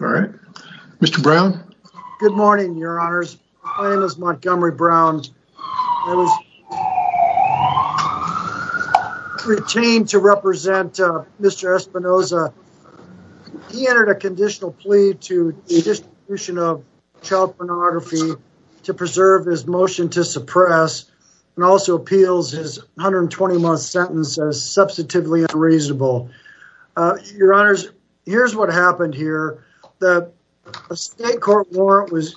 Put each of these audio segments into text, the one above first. All right, Mr. Brown. Good morning, Your Honors. My name is Montgomery Brown. I was retained to represent Mr. Espinoza. He entered a conditional plea to the Distribution of Child Pornography to preserve his motion to suppress and also appeals his 120-month sentence as substantively unreasonable. Your Honors, here's what happened here. The state court warrant was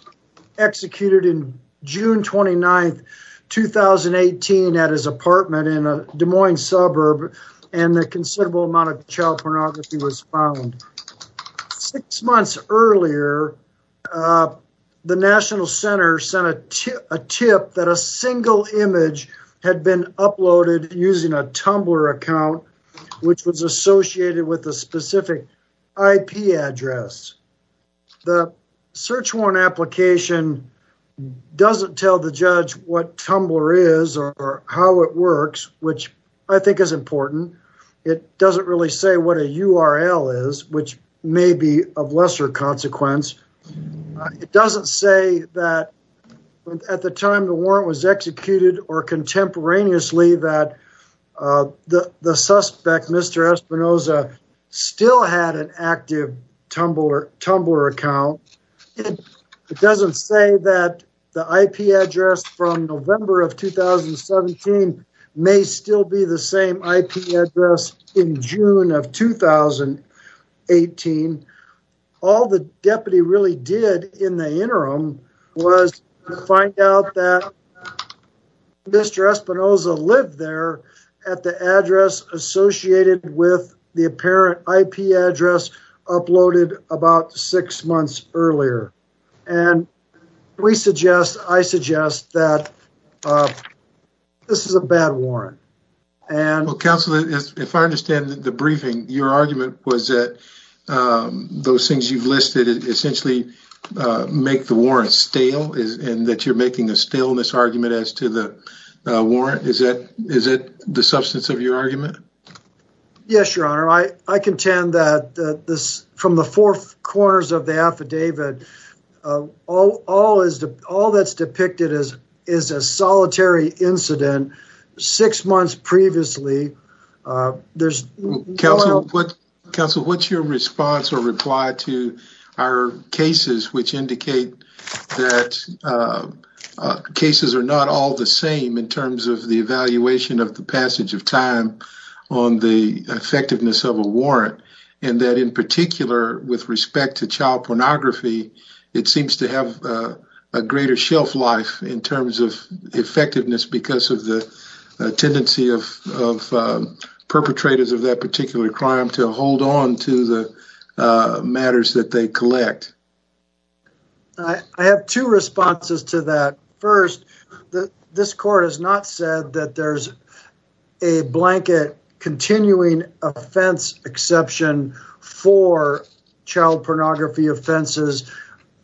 executed in June 29, 2018 at his apartment in a Des Moines suburb, and a considerable amount of a tip that a single image had been uploaded using a Tumblr account, which was associated with a specific IP address. The search warrant application doesn't tell the judge what Tumblr is or how it works, which I think is important. It doesn't really say what a URL is, which may be of lesser consequence. It doesn't say that at the time the warrant was executed or contemporaneously that the suspect, Mr. Espinoza, still had an active Tumblr account. It doesn't say that the IP address from November of 2017 may still be the same IP address in June of 2018. All the deputy really did in the interim was find out that Mr. Espinoza lived there at the address associated with the apparent IP address uploaded about six months earlier. And I suggest that this is a bad warrant. Well, Counselor, if I understand the briefing, your argument was that those things you've listed essentially make the warrant stale, and that you're making a staleness argument as to the warrant. Is it the substance of your argument? Yes, Your Honor. I contend that from the four corners of the affidavit, all that's depicted is a solitary incident six months previously. Counselor, what's your response or reply to our cases which indicate that cases are not all the same in terms of the evaluation of the passage of time on the effectiveness of a warrant, and that in particular with respect to child pornography, it seems to have a greater shelf life in terms of effectiveness because of the tendency of perpetrators of that particular crime to hold on to the matters that they collect? I have two responses to that. First, this court has not said that there's a blanket continuing offense exception for child pornography offenses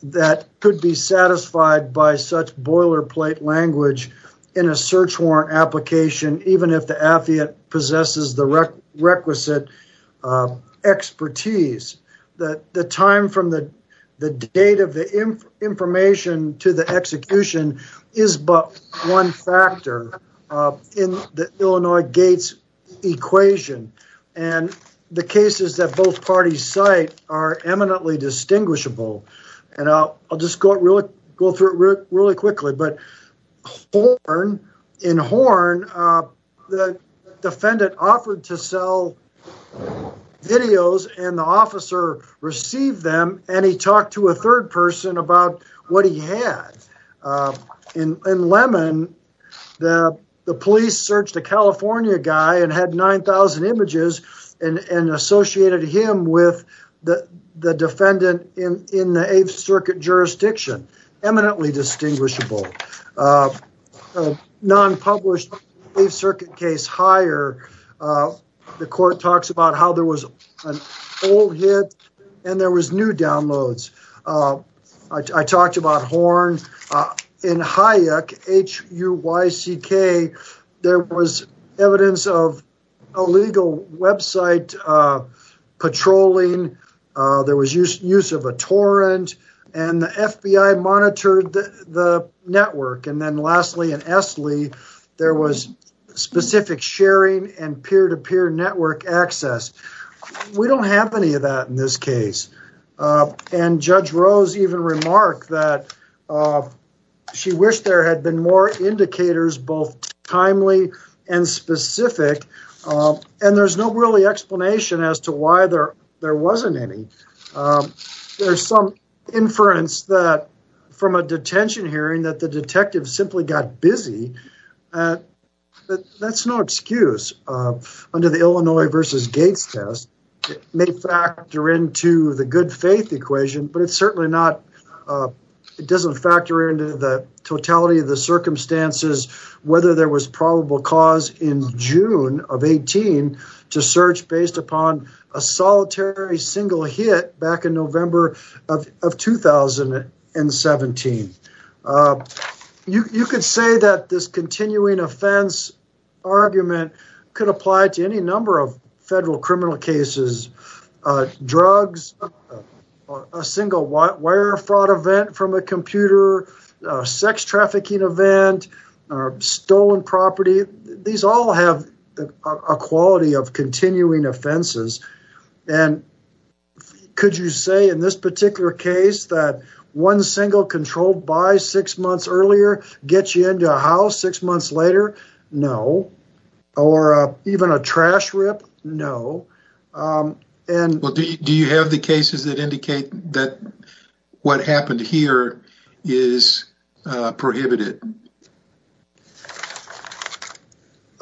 that could be satisfied by such boiler plate language in a search warrant application, even if the affidavit possesses the requisite expertise. The time from the date of the information to the execution is but one factor in the Illinois gates equation, and the cases that both parties cite are eminently distinguishable, and I'll just go through it really quickly, but in Horn, the defendant offered to sell videos, and the officer received them, and he talked to a third person about what he had. In Lemon, the police searched a California guy and had 9,000 images and associated him with the defendant in the Eighth Circuit jurisdiction, eminently distinguishable. A non-published Eighth Circuit case, Higher, the court talks about how there was an old hit and there was new downloads. I talked about Horn. In Hayek, H-U-Y-C-K, there was evidence of an S-L-E. There was specific sharing and peer-to-peer network access. We don't have any of that in this case, and Judge Rose even remarked that she wished there had been more indicators, both timely and specific, and there's no really explanation as to why there wasn't any. There's some inference from a detention hearing that the detective simply got busy, but that's no excuse. Under the Illinois v. Gates test, it may factor into the good faith equation, but it doesn't factor into the totality of the circumstances whether there was probable cause in June of 18 to search based upon a solitary single hit back in November of 2017. You could say that this continuing offense argument could apply to any number of federal criminal cases. Drugs, a single wire fraud event from a computer, a sex trafficking event, stolen property, these all have a quality of continuing offenses. Could you say in this particular case that one single controlled by six months earlier gets you into a house six months later? No. Or even a trash rip? No. Do you have the cases that indicate that what happened here is prohibited?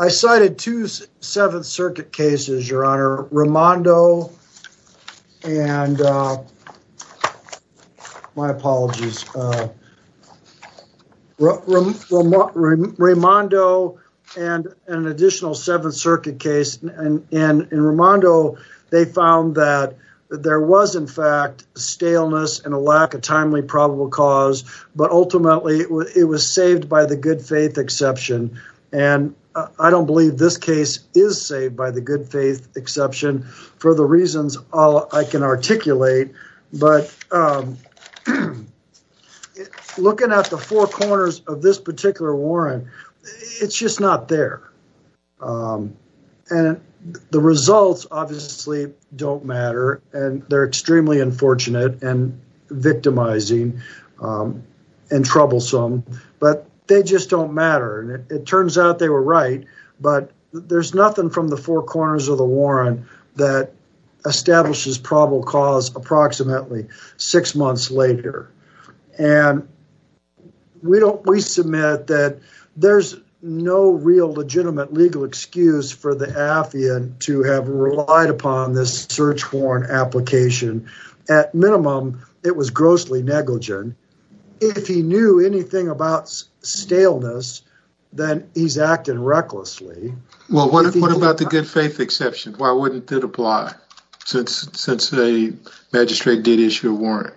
I cited two Seventh Circuit cases, Your Honor. Raimondo and an additional Seventh Circuit case. In Raimondo, they found that there was in fact staleness and a lack of timely probable cause, but ultimately it was saved by the good faith exception. I don't believe this case is saved by the good faith exception for the reasons I can articulate, but looking at the four corners of this particular warrant, it's just not there. And the results obviously don't matter, and they're extremely unfortunate and victimizing and troublesome, but they just don't matter. It turns out they were right, but there's nothing from the four corners of the warrant that establishes probable cause approximately six months later. And we submit that there's no real legitimate legal excuse for the affiant to have relied upon this search warrant application. At minimum, it was grossly negligent. If he knew anything about staleness, then he's acting recklessly. Well, what about the good faith exception? Why wouldn't that apply since the magistrate did issue a warrant?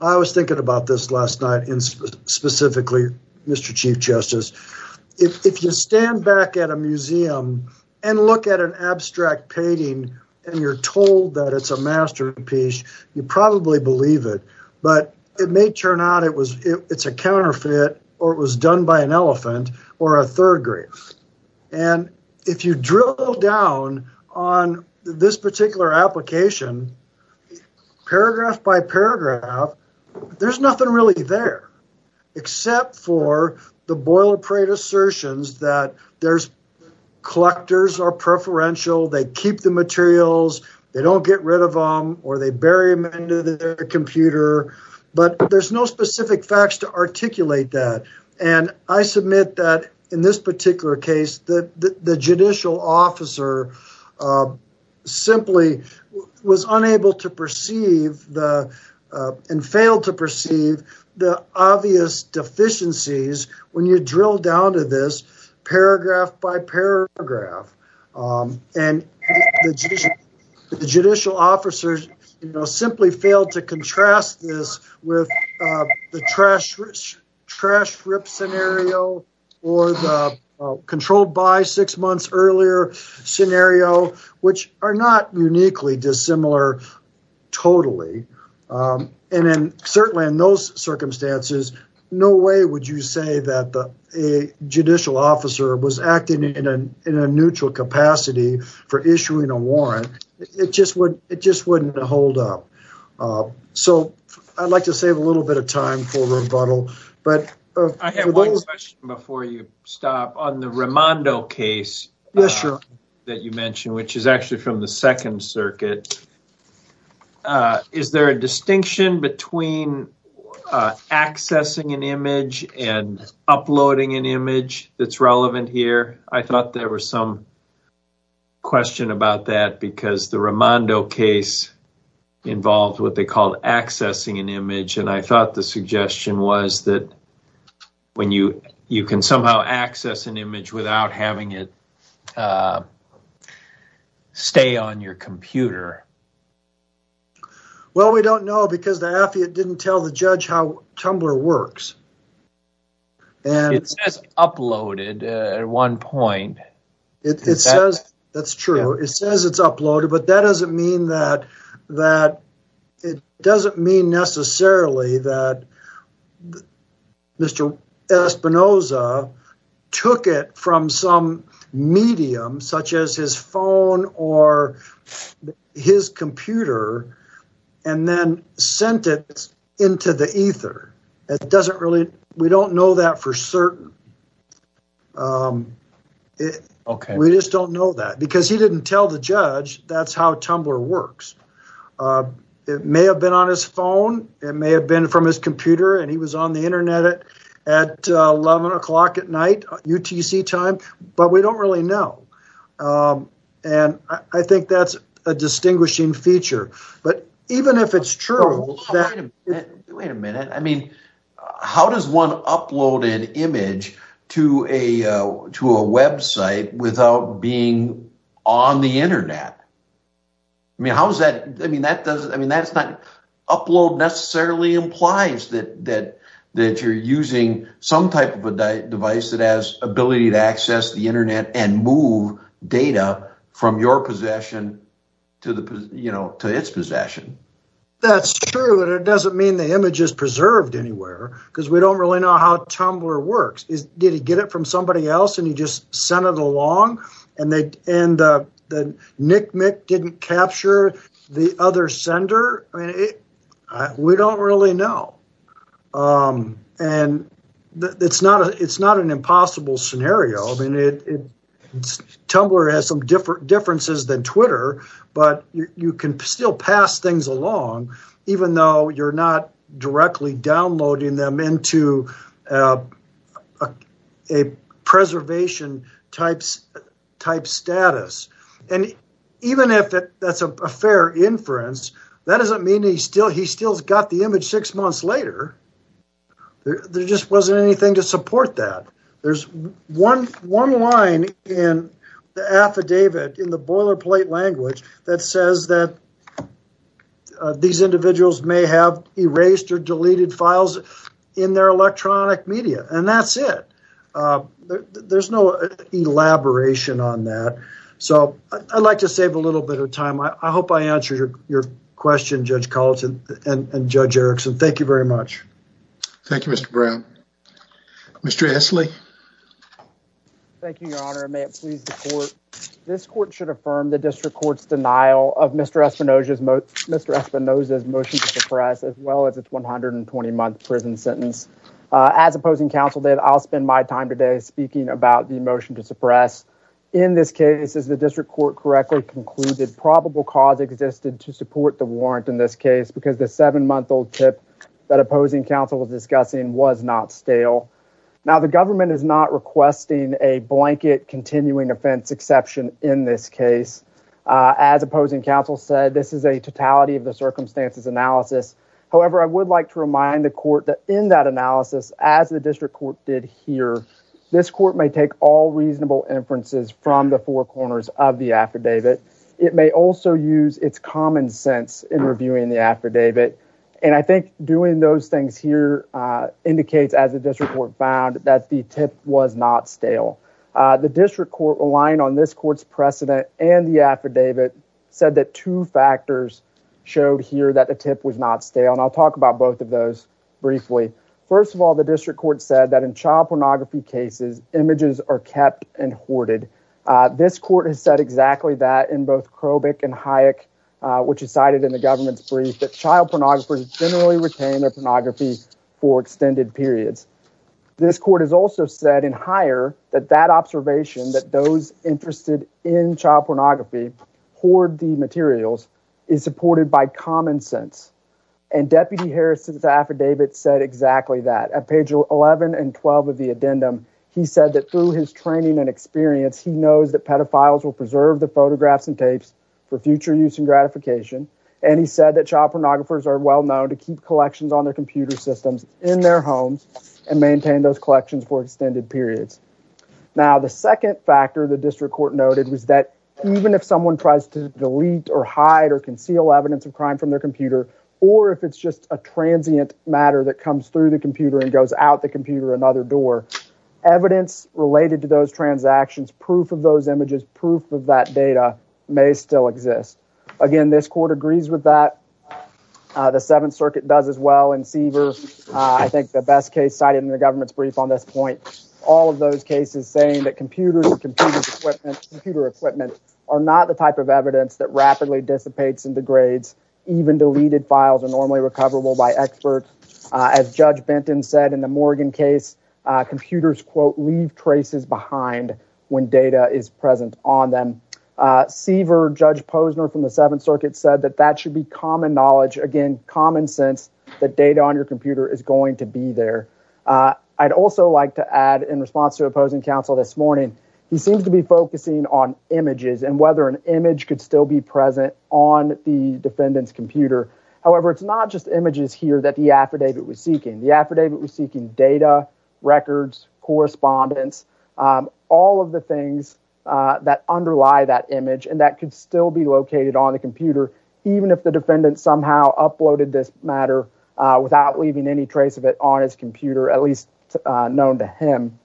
I was thinking about this last night, specifically, Mr. Chief Justice. If you stand back at a museum and look at an abstract painting and you're told that it's a masterpiece, you probably believe it, but it may turn out it's a counterfeit or it was done by an elephant or a third grade. And if you drill down on this particular application, paragraph by paragraph, there's nothing really there except for the boilerplate assertions that there's collectors are preferential, they keep the materials, they don't get rid of them, or they bury them into their computer, but there's no specific facts to articulate that. And I submit that in this particular case, the judicial officer simply was unable to perceive and failed to perceive the obvious deficiencies when you drill down to this paragraph by paragraph. And the judicial officer simply failed to contrast this with the trash rip scenario or the controlled by six months earlier scenario, which are not uniquely dissimilar totally. And then certainly in those circumstances, no way would you say that a judicial officer was in a neutral capacity for issuing a warrant, it just wouldn't hold up. So I'd like to save a little bit of time for rebuttal. But I have one question before you stop on the Raimondo case that you mentioned, which is actually from the second circuit. Is there a distinction between accessing an image and uploading an image that's relevant here? I thought there was some question about that because the Raimondo case involved what they called accessing an image. And I thought the suggestion was that when you can somehow access an image without having it stay on your computer. Well, we don't know because the affidavit didn't tell the judge how Tumblr works. And it says uploaded at one point. It says that's true. It says it's uploaded, but that doesn't mean that it doesn't mean necessarily that Mr. Espinoza took it from some medium such as his phone or his computer and then sent it into the ether. We don't know that for certain. We just don't know that because he didn't tell the judge that's how Tumblr works. It may have been on his phone. It may have been from his computer. And he was on the internet at 11 o'clock at night, UTC time. But we don't really know. And I think that's a distinguishing feature. But even if it's true. Wait a minute. How does one upload an image to a website without being on the internet? Upload necessarily implies that you're using some type of a device that has ability to access the internet and move data from your possession to its possession. That's true. But it doesn't mean the image is preserved anywhere because we don't really know how Tumblr works. Did he get it from somebody else and he just sent it along and the nicknick didn't capture the other sender? We don't really know. And it's not an impossible scenario. Tumblr has some differences than Twitter, but you can still pass things along even though you're not that's a fair inference. That doesn't mean he still he still got the image six months later. There just wasn't anything to support that. There's one one line in the affidavit in the boilerplate language that says that these individuals may have erased or deleted files in their electronic media and that's it. There's no elaboration on that. So I'd like to save a time. I hope I answered your question, Judge Collins and Judge Erickson. Thank you very much. Thank you, Mr. Brown. Mr. Essley. Thank you, your honor. May it please the court. This court should affirm the district court's denial of Mr. Espinoza's motion to suppress as well as its 120-month prison sentence. As opposing counsel did, I'll spend my time today speaking about the motion to suppress. In this case, as the district court correctly concluded, probable cause existed to support the warrant in this case because the seven-month-old tip that opposing counsel was discussing was not stale. Now the government is not requesting a blanket continuing offense exception in this case. As opposing counsel said, this is a totality of the circumstances analysis. However, I would like to remind the court that in that analysis, as the district court did here, this court may take all reasonable inferences from the four corners of the affidavit. It may also use its common sense in reviewing the affidavit. And I think doing those things here indicates, as the district court found, that the tip was not stale. The district court aligned on this court's precedent and the affidavit said that two factors showed here that the tip was not stale. And I'll talk about both of those briefly. First of all, the district court said that in child pornography cases, images are kept and hoarded. This court has said exactly that in both Krobik and Hayek, which is cited in the government's brief, that child pornographers generally retain their pornography for extended periods. This court has also said in higher that that observation, that those interested in child pornography hoard the materials, is supported by common sense. And Deputy Harris' affidavit said exactly that. At page 11 and 12 of the addendum, he said that through his training and experience, he knows that pedophiles will preserve the photographs and tapes for future use and gratification. And he said that child pornographers are well known to keep collections on their computer systems in their homes and maintain those collections for extended periods. Now, the second factor the district court noted was that even if someone tries to delete or hide or conceal evidence of crime from their computer, or if it's just a transient matter that comes through the computer and goes out the computer another door, evidence related to those transactions, proof of those images, proof of that data, may still exist. Again, this court agrees with that. The Seventh Circuit does as well in Seaver. I think the best case cited in the government's brief on this point, all of those cases saying that computers and computer equipment are not the type of evidence that rapidly dissipates and degrades, even deleted files are normally recoverable by experts. As Judge Benton said in the Morgan case, computers, quote, leave traces behind when data is present on them. Seaver, Judge Posner from the Seventh Circuit said that that should be common knowledge, again, common sense, that data on your computer is going to be there. I'd also like to add in response to opposing counsel this morning, he seems to be focusing on images and whether an image could still be present on the defendant's computer. However, it's not just images here that the affidavit was seeking. The affidavit was seeking data, records, correspondence, all of the things that underlie that image and that could still be located on the computer, even if the defendant somehow uploaded this matter without leaving any trace of it on his computer, at least known to him.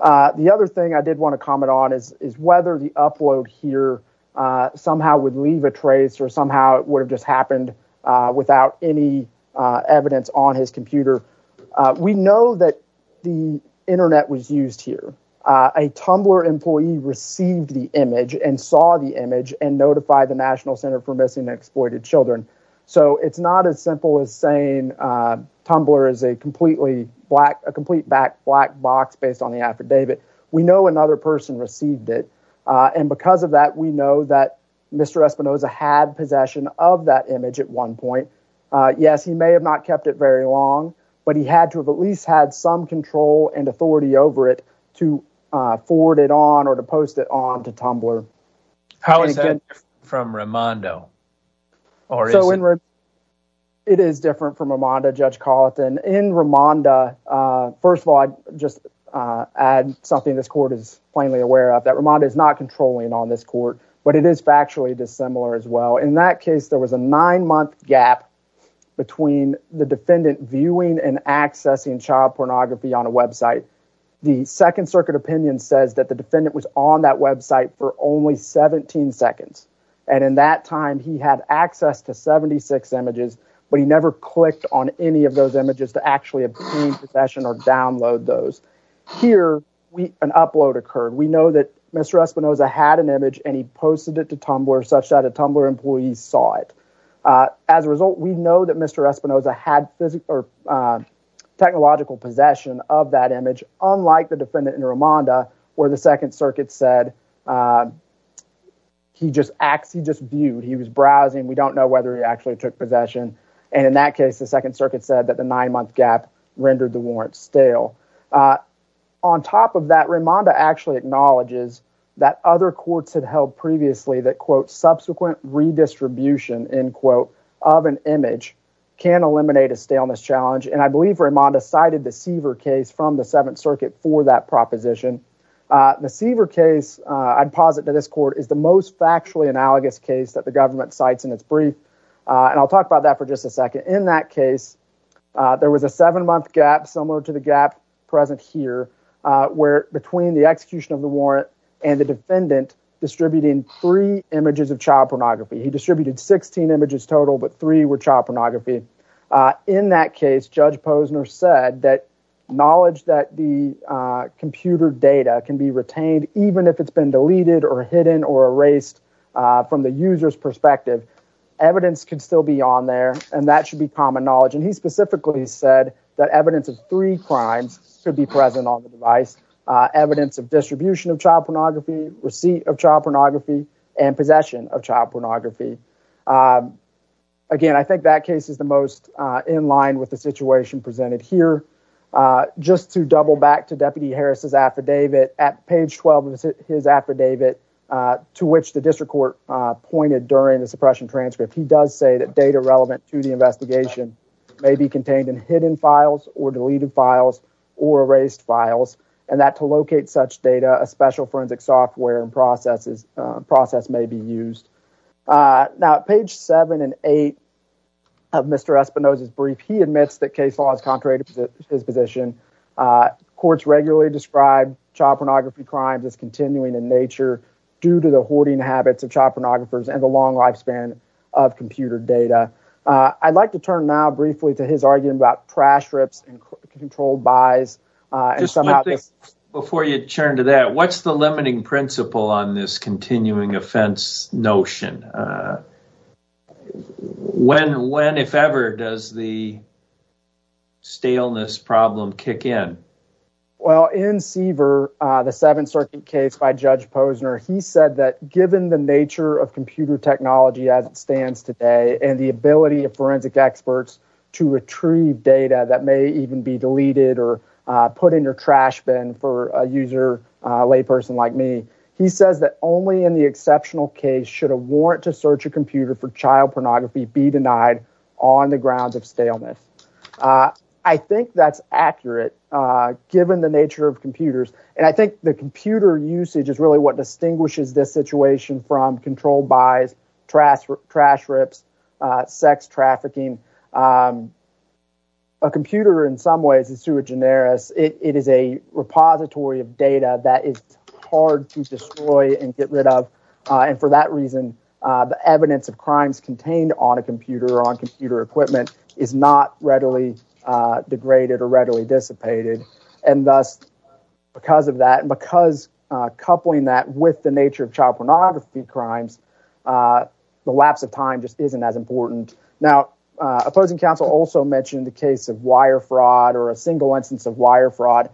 The other thing I did want to comment on is whether the upload here somehow would leave a trace or somehow it would have just happened without any evidence on his computer. We know that the internet was used here. A Tumblr employee received the image and saw the image and notified the National Center for Missing and Exploited Children. So it's not as simple as saying Tumblr is a complete black box based on the affidavit. We know another person received it, and because of that, we know that Mr. Espinosa had possession of that image at one point. Yes, he may have not kept it very long, but he had to have at least had some control and authority over it to forward it on or to post it on to Tumblr. How is that different from Raimondo? So it is different from Raimondo, Judge Carleton. In Raimondo, first of all, I'd just add something this court is plainly aware of, that Raimondo is not controlling on this court, but it is factually dissimilar as well. In that case, there was a nine-month gap between the defendant viewing and accessing child pornography on a website. The Second Circuit opinion says that the defendant was on that website for only 17 seconds. And in that time, he had access to 76 images, but he never clicked on any of those images to actually obtain possession or download those. Here, an upload occurred. We know that Mr. Espinosa had an image and he posted it to Tumblr such that a Tumblr employee saw it. As a result, we know that Mr. Espinosa had technological possession of that image, unlike the defendant in Raimondo, where the Second Circuit said he just viewed, he was browsing, we don't know whether he actually took possession. And in that case, the Second Circuit said that the nine-month gap rendered the warrant stale. On top of that, Raimondo actually acknowledges that other courts had held previously that, quote, subsequent redistribution, end quote, of an image can eliminate a staleness challenge. And I believe Raimondo cited the Seaver case from the Seventh Circuit. The Seaver case, I'd posit to this court, is the most factually analogous case that the government cites in its brief. And I'll talk about that for just a second. In that case, there was a seven-month gap, similar to the gap present here, where between the execution of the warrant and the defendant distributing three images of child pornography. He distributed 16 images total, but three were child pornography. In that case, Judge Posner said that knowledge that the computer data can be retained, even if it's been deleted or hidden or erased from the user's perspective, evidence could still be on there, and that should be common knowledge. And he specifically said that evidence of three crimes could be present on the device, evidence of distribution of child pornography, receipt of child pornography, and possession of child pornography. Again, I think that case is the most in line with the situation presented here. Just to double back to Deputy Harris's affidavit, at page 12 of his affidavit, to which the district court pointed during the suppression transcript, he does say that data relevant to the investigation may be contained in hidden files or deleted files or erased files, and that to locate such data, a special forensic software and process may be used. Now, at page seven and eight of Mr. Espinosa's brief, he admits that case law is contrary to his position. Courts regularly describe child pornography crimes as continuing in nature due to the hoarding habits of child pornographers and the long lifespan of computer data. I'd like to turn now briefly to his argument about trash rips and controlled buys. Just one thing before you turn to that. What's the limiting principle on this continuing offense notion? When, if ever, does the staleness problem kick in? Well, in Seaver, the Seventh Circuit case by Judge Posner, he said that given the nature of computer technology as it stands today and the ability of forensic experts to retrieve data that even be deleted or put in your trash bin for a user, a lay person like me, he says that only in the exceptional case should a warrant to search a computer for child pornography be denied on the grounds of staleness. I think that's accurate given the nature of computers, and I think the computer usage is really what distinguishes this situation from controlled buys, trash rips, sex trafficking. A computer in some ways is too generous. It is a repository of data that is hard to destroy and get rid of. And for that reason, the evidence of crimes contained on a computer or on computer equipment is not readily degraded or readily dissipated. And thus, because of that and because coupling that with the nature of child pornography crimes, the lapse of time just isn't as important. Now, opposing counsel also mentioned the case of wire fraud or a single instance of wire fraud.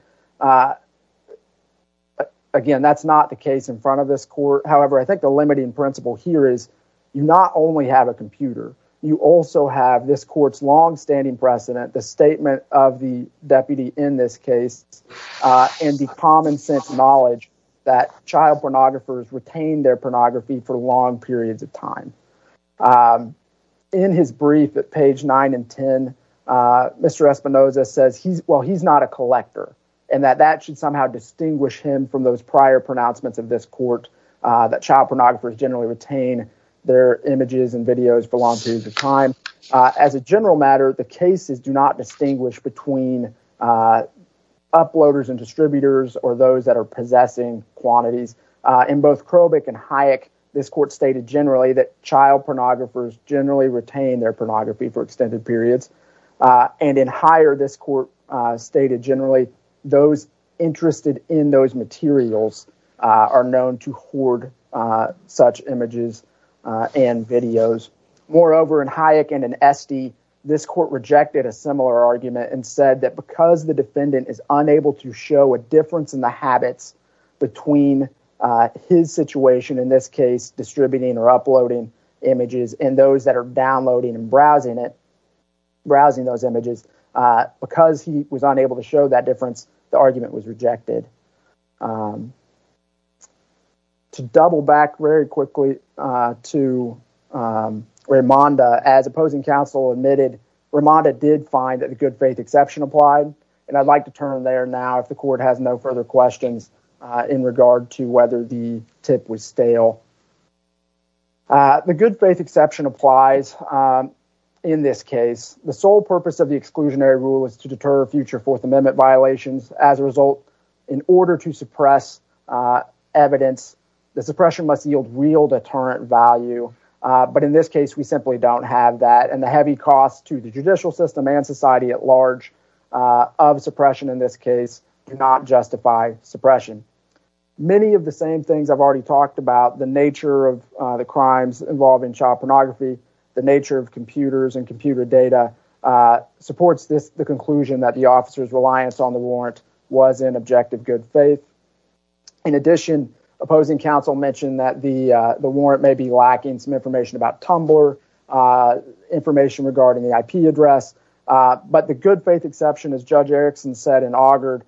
Again, that's not the case in front of this court. However, I think the limiting principle here is you not only have a computer, you also have this court's longstanding precedent, the statement of the deputy in this case, and the common sense knowledge that child pornographers retain their pornography for long periods of time. In his brief at page 9 and 10, Mr. Espinoza says, well, he's not a collector, and that that should somehow distinguish him from those prior pronouncements of this court that child pornographers generally retain their images and videos for long periods of time. As a general matter, the cases do not distinguish between uploaders and distributors or those that are possessing quantities. In both Krobik and Hayek, this court stated generally that child pornographers generally retain their pornography for extended periods. And in Hayek, this court stated generally those interested in those materials are known to hoard such images and videos. Moreover, in Hayek and in Esty, this court rejected a similar argument and said that because the defendant is unable to show a difference in the habits between his situation in this case, distributing or uploading images, and those that are downloading and browsing those images, because he was unable to show that difference, the argument was rejected. To double back very quickly to Raimonda, as opposing counsel admitted, Raimonda did find the good faith exception applied. And I'd like to turn there now if the court has no further questions in regard to whether the tip was stale. The good faith exception applies in this case. The sole purpose of the exclusionary rule is to deter future Fourth Amendment violations. As a result, in order to suppress evidence, the suppression must yield real deterrent value. But in this case, we simply don't have that. And the heavy cost to the judicial system and society at large of suppression in this case do not justify suppression. Many of the same things I've already talked about, the nature of the crimes involving child pornography, the nature of computers and computer data, supports the conclusion that the officer's reliance on the warrant was in objective good faith. In addition, opposing counsel mentioned that the warrant may be but the good faith exception, as Judge Erickson said in Augard,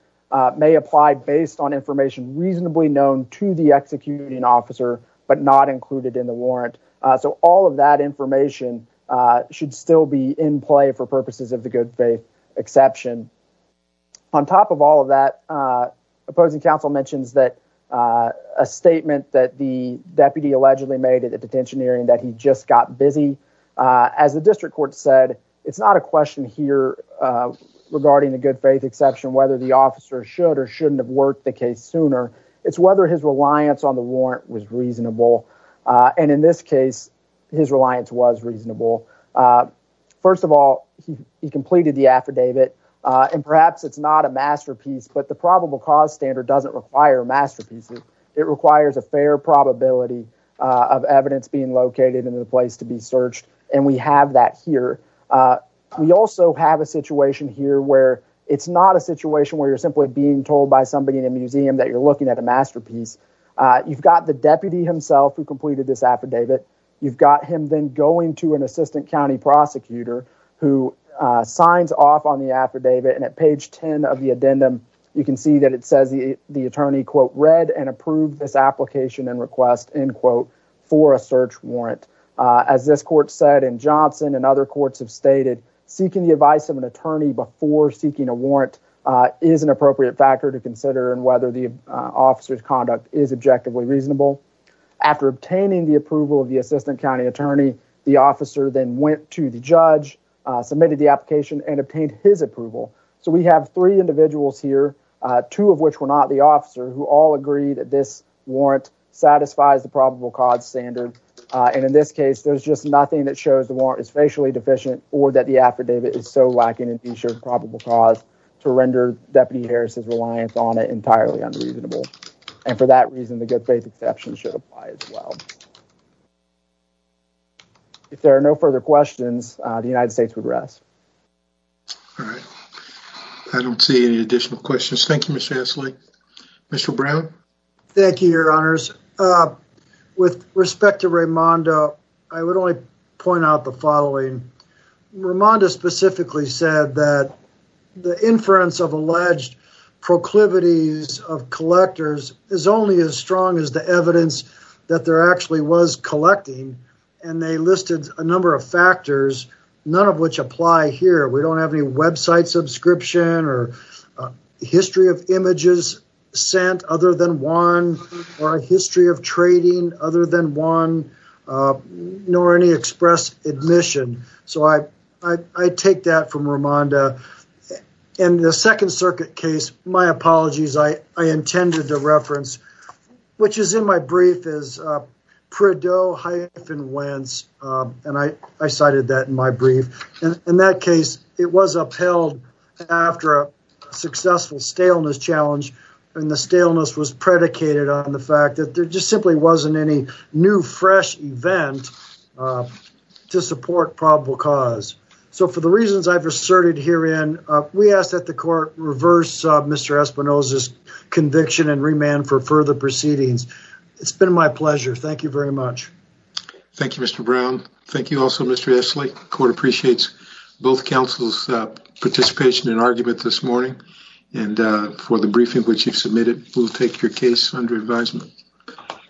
may apply based on information reasonably known to the executing officer, but not included in the warrant. So all of that information should still be in play for purposes of the good faith exception. On top of all of that, opposing counsel mentions that a statement that the deputy allegedly made at the detention that he just got busy. As the district court said, it's not a question here regarding the good faith exception, whether the officer should or shouldn't have worked the case sooner. It's whether his reliance on the warrant was reasonable. And in this case, his reliance was reasonable. First of all, he completed the affidavit. And perhaps it's not a masterpiece, but the probable cause standard doesn't require masterpieces. It requires a fair probability of evidence being the place to be searched. And we have that here. We also have a situation here where it's not a situation where you're simply being told by somebody in a museum that you're looking at a masterpiece. You've got the deputy himself who completed this affidavit. You've got him then going to an assistant county prosecutor who signs off on the affidavit. And at page 10 of the addendum, you can see that it says the attorney, quote, read and approved this application and end quote, for a search warrant. As this court said in Johnson and other courts have stated, seeking the advice of an attorney before seeking a warrant is an appropriate factor to consider and whether the officer's conduct is objectively reasonable. After obtaining the approval of the assistant county attorney, the officer then went to the judge, submitted the application, and obtained his approval. So we have three individuals here, two of which were not the probable cause standard. And in this case, there's just nothing that shows the warrant is facially deficient or that the affidavit is so lacking in the shared probable cause to render Deputy Harris's reliance on it entirely unreasonable. And for that reason, the good faith exception should apply as well. If there are no further questions, the United States would rest. All right. I don't see any additional questions. Thank you, With respect to Raimonda, I would only point out the following. Raimonda specifically said that the inference of alleged proclivities of collectors is only as strong as the evidence that there actually was collecting, and they listed a number of factors, none of which apply here. We don't have any website subscription or history of images sent other than one, or a history of trading other than one, nor any express admission. So I take that from Raimonda. In the Second Circuit case, my apologies, I intended to reference, which is in my brief, is Perdot-Wentz, and I cited that in my brief. In that case, it was upheld after a successful staleness challenge, and the staleness was predicated on the fact that there just simply wasn't any new fresh event to support probable cause. So for the reasons I've asserted herein, we ask that the court reverse Mr. Espinosa's conviction and remand for further proceedings. It's been my pleasure. Thank you very much. Thank you, Mr. Brown. Thank you also, Mr. Esley. The court appreciates both counsel's participation and argument this morning, and for the briefing which you've submitted, we'll take your case under advisement.